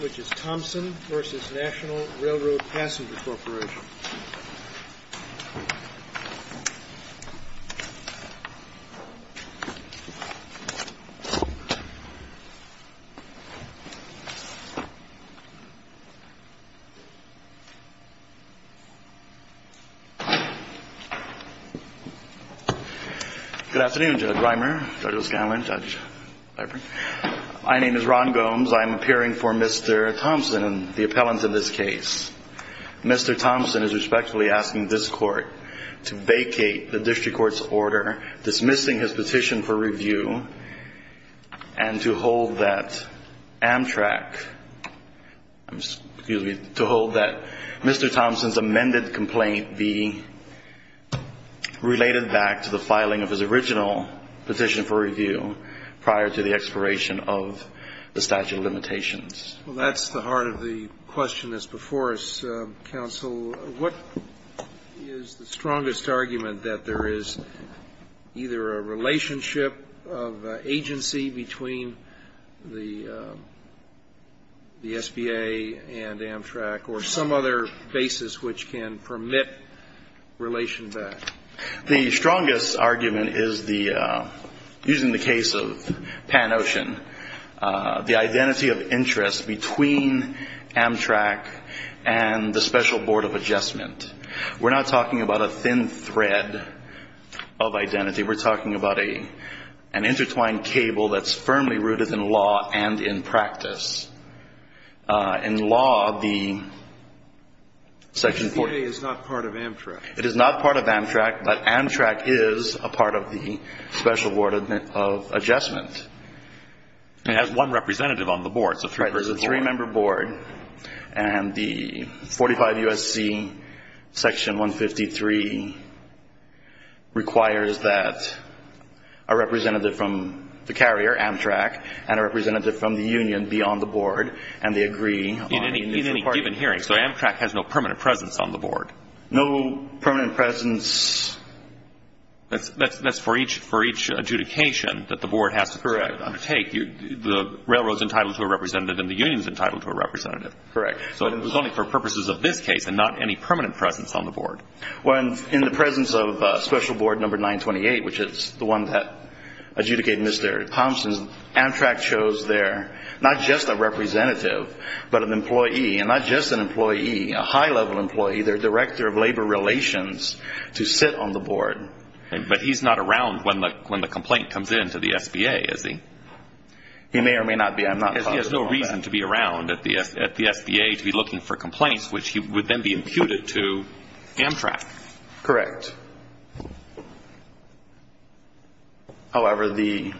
which is Thompson versus National Railroad Passenger Corporation. Good afternoon, Judge Reimer, Judge O'Scanlan, Judge Leiper. My name is Ron Gomes. I'm appearing for Mr. Thompson, the appellant in this case. Mr. Thompson is respectfully asking this court to vacate the district court's order dismissing his petition for review and to hold that Mr. Thompson's amended complaint be related back to the filing of his original petition for review prior to the expiration of the statute of limitations. Well, that's the heart of the question that's before us, Counsel. What is the strongest argument that there is either a relationship of agency between the SBA and Amtrak or some other basis which can permit relation back? The strongest argument is the, using the case of Pan Ocean, the identity of interest between Amtrak and the Special Board of Adjustment. We're not talking about a thin thread of identity. We're talking about an intertwined cable that's firmly rooted in law and in practice. In law, the Section 40- The SBA is not part of Amtrak. It is not part of Amtrak, but Amtrak is a part of the Special Board of Adjustment. It has one representative on the board. It's a three-person board. Right. It's a three-member board. And the 45 U.S.C. Section 153 requires that a representative from the carrier, Amtrak, and a representative from the union be on the board, and they agree on- In any given hearing, so Amtrak has no permanent presence on the board? No permanent presence- That's for each adjudication that the board has to- Correct. The railroad's entitled to a representative and the union's entitled to a representative. Correct. So it was only for purposes of this case and not any permanent presence on the board. Well, in the presence of Special Board Number 928, which is the one that adjudicated Mr. Thompson, Amtrak chose their-not just a representative, but an employee, and not just an employee, a high-level employee, their director of labor relations, to sit on the board. But he's not around when the complaint comes in to the SBA, is he? He may or may not be. I'm not talking about that. Because he has no reason to be around at the SBA to be looking for complaints, which would then be imputed to Amtrak. Correct. However, the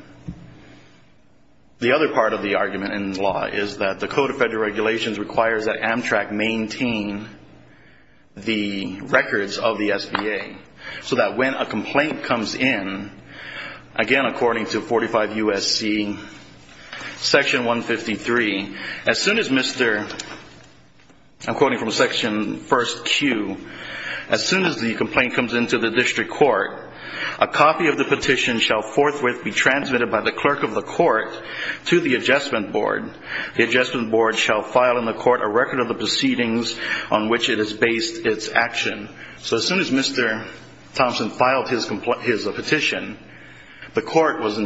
other part of the argument in the law is that the Code of Federal Regulations requires that Amtrak maintain the records of the SBA so that when a complaint comes in, again, according to 45 U.S.C. Section 153, as soon as Mr.-I'm quoting from Section 1stQ- as soon as the complaint comes into the district court, a copy of the petition shall forthwith be transmitted by the clerk of the court to the adjustment board. The adjustment board shall file in the court a record of the proceedings on which it has based its action. So as soon as Mr. Thompson filed his petition, the court was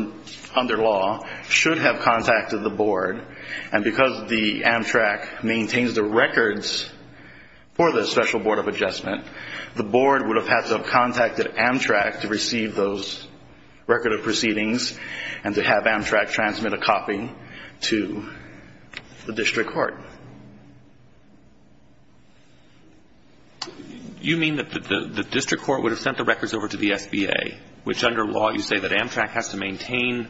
under law, should have contacted the board, and because the Amtrak maintains the records for the special board of adjustment, the board would have had to have contacted Amtrak to receive those record of proceedings and to have Amtrak transmit a copy to the district court. You mean that the district court would have sent the records over to the SBA, which under law you say that Amtrak has to maintain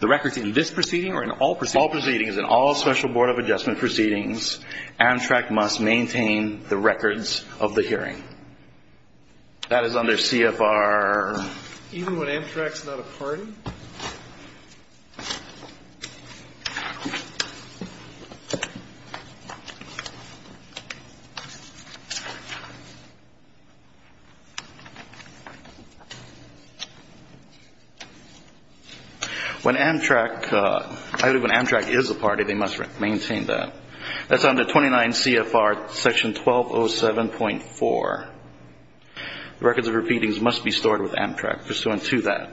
the records in this proceeding or in all proceedings? All proceedings. In all special board of adjustment proceedings, Amtrak must maintain the records of the hearing. That is under CFR- Even when Amtrak is not a party? When Amtrak is a party, they must maintain that. That's under 29 CFR section 1207.4. The records of the proceedings must be stored with Amtrak pursuant to that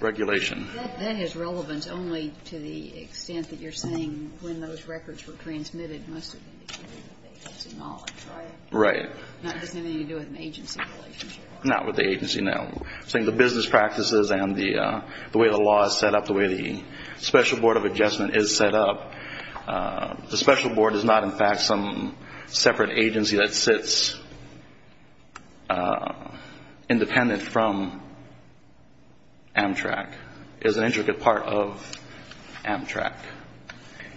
regulation. That has relevance only to the extent that you're saying when those records were transmitted, it must have been with the agency knowledge, right? Right. Not just anything to do with an agency relationship. Not with the agency. No. I'm saying the business practices and the way the law is set up, the way the special board of adjustment is set up, the special board is not, in fact, some separate agency that sits independent from Amtrak. It is an intricate part of Amtrak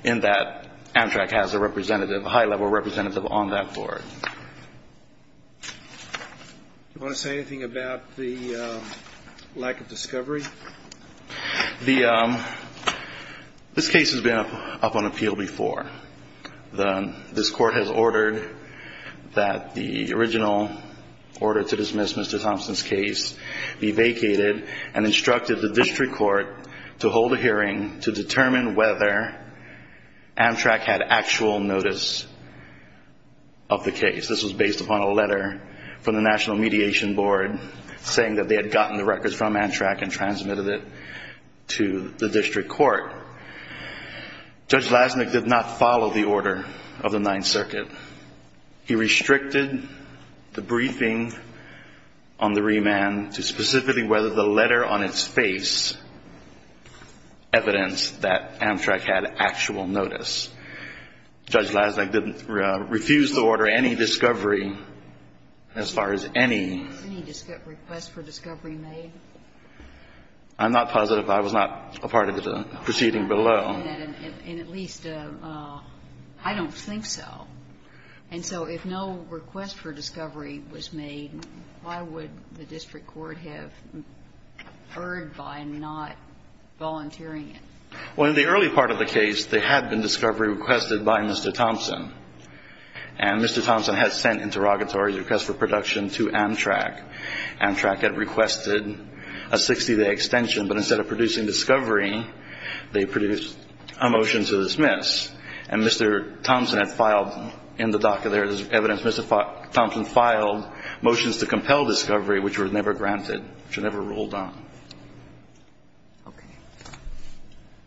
in that Amtrak has a representative, a high-level representative on that board. Do you want to say anything about the lack of discovery? This case has been up on appeal before. This court has ordered that the original order to dismiss Mr. Thompson's case be vacated and instructed the district court to hold a hearing to determine whether Amtrak had actual notice of the case. This was based upon a letter from the National Mediation Board saying that they had gotten the records from Amtrak and transmitted it to the district court. Judge Lasnick did not follow the order of the Ninth Circuit. He restricted the briefing on the remand to specifically whether the letter on its face evidenced that Amtrak had actual notice. Judge Lasnick refused to order any discovery as far as any... I'm not positive. I was not a part of the proceeding below. And at least, I don't think so. And so if no request for discovery was made, why would the district court have erred by not volunteering it? Well, in the early part of the case, there had been discovery requested by Mr. Thompson, and Mr. Thompson had sent interrogatory requests for production to Amtrak. Amtrak had requested a 60-day extension, but instead of producing discovery, they produced a motion to dismiss. And Mr. Thompson had filed in the docket, there is evidence, Mr. Thompson filed motions to compel discovery which were never granted, which were never ruled on.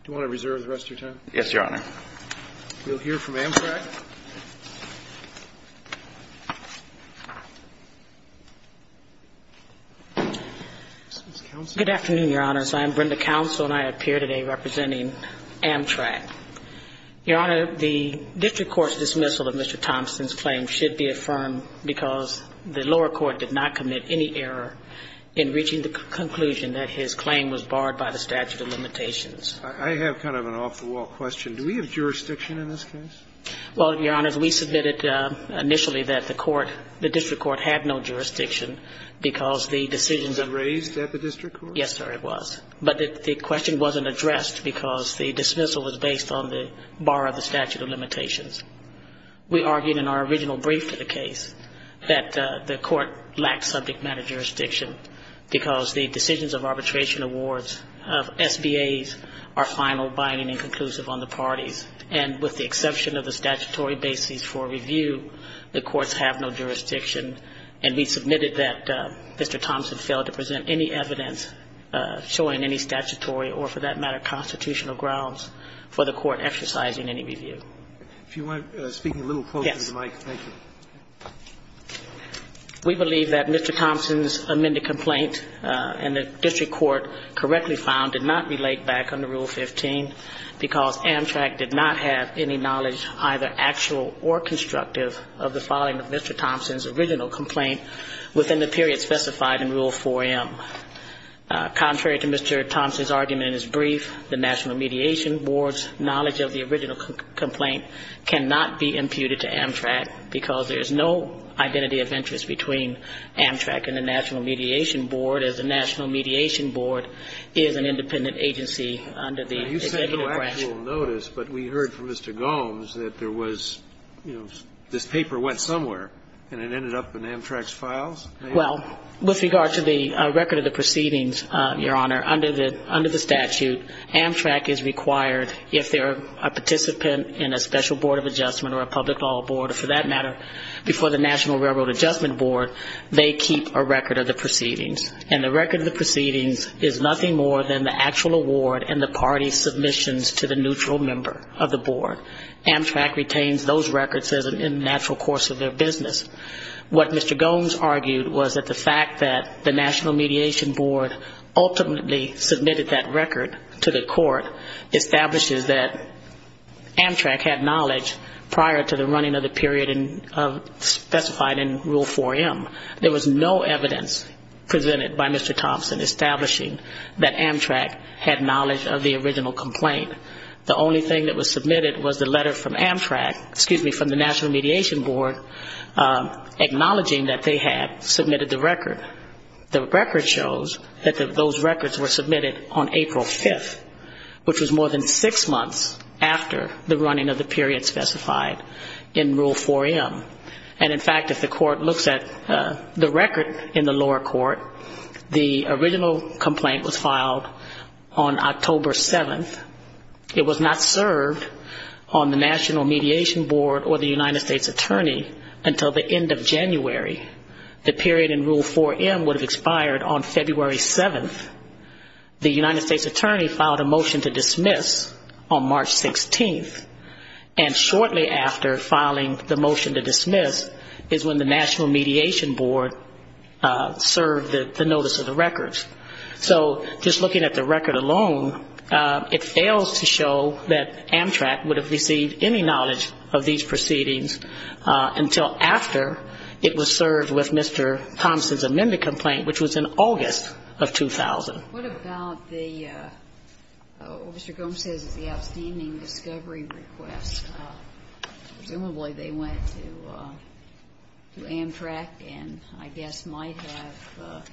Do you want to reserve the rest of your time? Yes, Your Honor. We'll hear from Amtrak. Ms. Counsel. Good afternoon, Your Honors. I am Brenda Counsel, and I appear today representing Amtrak. Your Honor, the district court's dismissal of Mr. Thompson's claim should be affirmed because the lower court did not commit any error in reaching the conclusion that his claim was barred by the statute of limitations. I have kind of an off-the-wall question. Do we have jurisdiction in this case? Well, Your Honors, we submitted initially that the court, the district court had no jurisdiction because the decisions of the court. Was it raised at the district court? Yes, sir, it was. But the question wasn't addressed because the dismissal was based on the bar of the statute of limitations. We argued in our original brief to the case that the court lacked subject matter jurisdiction because the decisions of arbitration awards of SBAs are final, binding and conclusive on the parties. And with the exception of the statutory bases for review, the courts have no jurisdiction. And we submitted that Mr. Thompson failed to present any evidence showing any statutory or, for that matter, constitutional grounds for the court exercising any review. If you want to speak a little closer to the mic. Yes. Thank you. We believe that Mr. Thompson's amended complaint in the district court correctly found did not relate back under Rule 15 because Amtrak did not have any knowledge, either actual or constructive, of the filing of Mr. Thompson's original complaint within the period specified in Rule 4M. Contrary to Mr. Thompson's argument in his brief, the National Mediation Board's knowledge of the because there is no identity of interest between Amtrak and the National Mediation Board, as the National Mediation Board is an independent agency under the executive branch. Now, you said no actual notice, but we heard from Mr. Gomes that there was, you know, this paper went somewhere and it ended up in Amtrak's files? Well, with regard to the record of the proceedings, Your Honor, under the statute, Amtrak is required if they're a participant in a special board of adjustment or a public law board or, for that matter, before the National Railroad Adjustment Board, they keep a record of the proceedings. And the record of the proceedings is nothing more than the actual award and the party's submissions to the neutral member of the board. Amtrak retains those records in the natural course of their business. What Mr. Gomes argued was that the fact that the National Mediation Board ultimately submitted that record to the court establishes that Amtrak had knowledge prior to the running of the period specified in Rule 4M. There was no evidence presented by Mr. Thompson establishing that Amtrak had knowledge of the original complaint. The only thing that was submitted was the letter from Amtrak, excuse me, from the National Mediation Board, acknowledging that they had submitted the record. The record shows that those records were submitted on April 5th, which was more than six months after the running of the period specified in Rule 4M. And, in fact, if the court looks at the record in the lower court, the original complaint was filed on October 7th. It was not served on the National Mediation Board or the United States Attorney until the end of January. The period in Rule 4M would have expired on February 7th. The United States Attorney filed a motion to dismiss on March 16th. And shortly after filing the motion to dismiss is when the National Mediation Board served the notice of the records. So just looking at the record alone, it fails to show that Amtrak would have received any knowledge of these proceedings until after it was served with Mr. Thompson's amended complaint, which was in August of 2000. What about the Mr. Gomes says is the outstanding discovery request? Presumably they went to Amtrak and I guess might have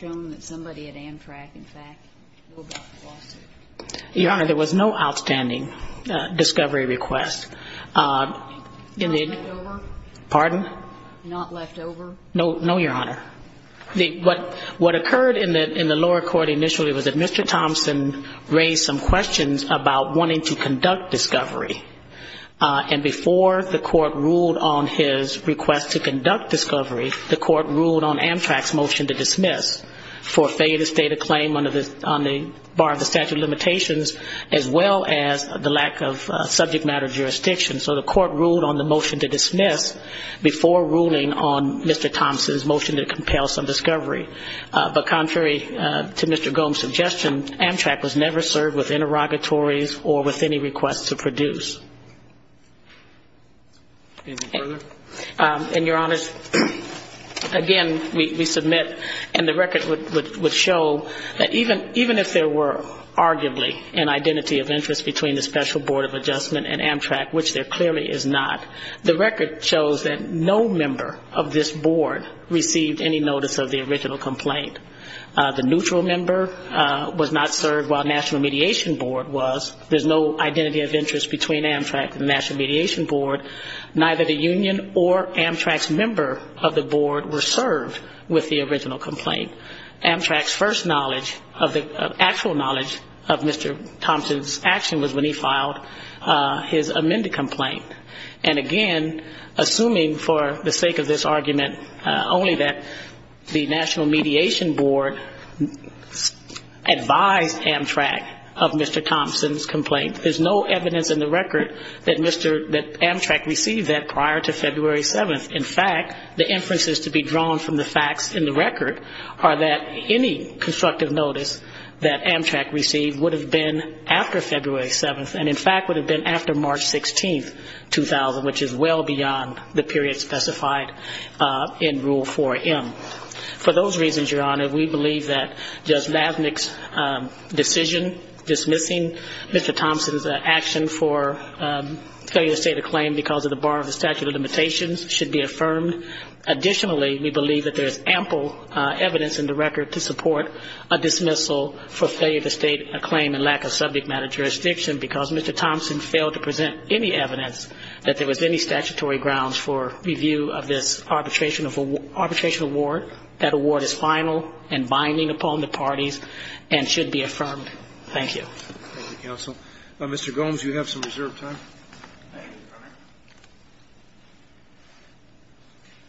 shown that somebody at Amtrak, in fact, knew about the lawsuit. Your Honor, there was no outstanding discovery request. Pardon? Not left over? No, Your Honor. What occurred in the lower court initially was that Mr. Thompson raised some questions about wanting to conduct discovery. And before the court ruled on his request to conduct discovery, the court ruled on Amtrak's motion to dismiss for failure to state a claim to jurisdiction. So the court ruled on the motion to dismiss before ruling on Mr. Thompson's motion to compel some discovery. But contrary to Mr. Gomes' suggestion, Amtrak was never served with interrogatories or with any requests to produce. Any further? And, Your Honors, again, we submit and the record would show that even if there were arguably an identity of interest between the Special Board of Amtrak and the National Mediation Board, which there clearly is not, the record shows that no member of this board received any notice of the original complaint. The neutral member was not served while National Mediation Board was. There's no identity of interest between Amtrak and the National Mediation Board. Neither the union or Amtrak's member of the board were served with the original complaint. Amtrak's first knowledge of the actual knowledge of Mr. Thompson's action was when he filed his amended complaint. And, again, assuming for the sake of this argument only that the National Mediation Board advised Amtrak of Mr. Thompson's complaint, there's no evidence in the record that Mr. Amtrak received that prior to February 7th. In fact, the inferences to be drawn from the facts in the record are that any constructive notice that Amtrak received would have been after February 7th and, in fact, would have been after March 16th, 2000, which is well beyond the period specified in Rule 4M. For those reasons, Your Honor, we believe that Judge Lavnick's decision dismissing Mr. Thompson's action for failure to state a claim because of the bar of the statute of limitations should be affirmed. Additionally, we believe that there is ample evidence in the record to support a dismissal for failure to state a claim in lack of subject matter jurisdiction because Mr. Thompson failed to present any evidence that there was any statutory grounds for review of this arbitration award. That award is final and binding upon the parties and should be affirmed. Thank you. Thank you, counsel. Mr. Gomes, you have some reserved time.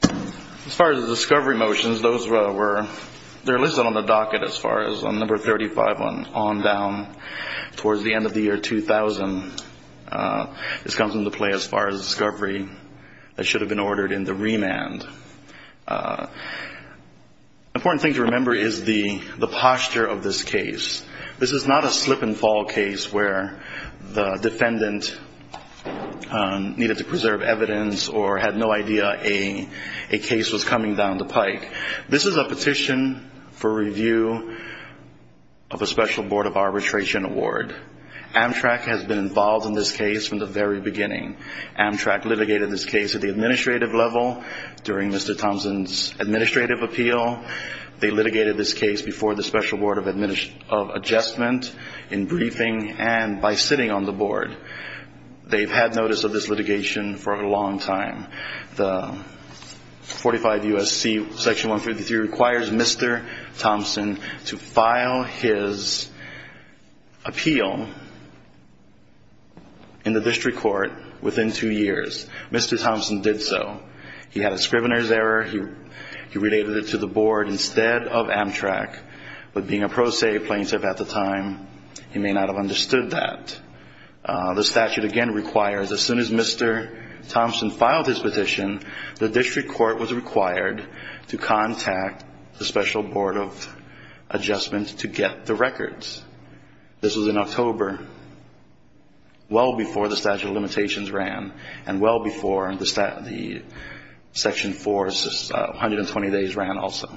As far as the discovery motions, those were listed on the docket as far as number 35 on down towards the end of the year 2000. This comes into play as far as discovery that should have been ordered in the remand. The important thing to remember is the posture of this case. This is not a slip and fall case where the defendant needed to preserve evidence or had no idea a case was coming down the pike. This is a petition for review of a special board of arbitration award. Amtrak has been involved in this case from the very beginning. Amtrak litigated this case at the administrative level during the administration of Mr. Thompson. They litigated this case before the special board of adjustment in briefing and by sitting on the board. They've had notice of this litigation for a long time. The 45 U.S.C. section 153 requires Mr. Thompson to file his appeal in the form of a special board of adjustment to get the records. This was in October, well before the statute of limitations ran and well before the section 4 120 days ran also.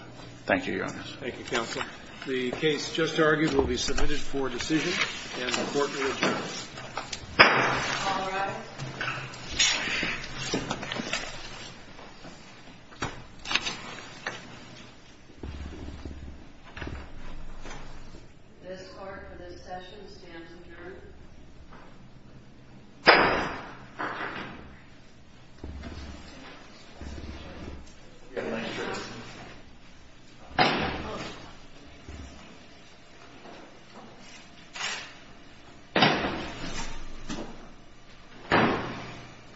Thank you, Your Honor. Thank you, Counsel. The case just argued will be submitted for decision and the court will adjourn. This court for this session stands adjourned. Thank you.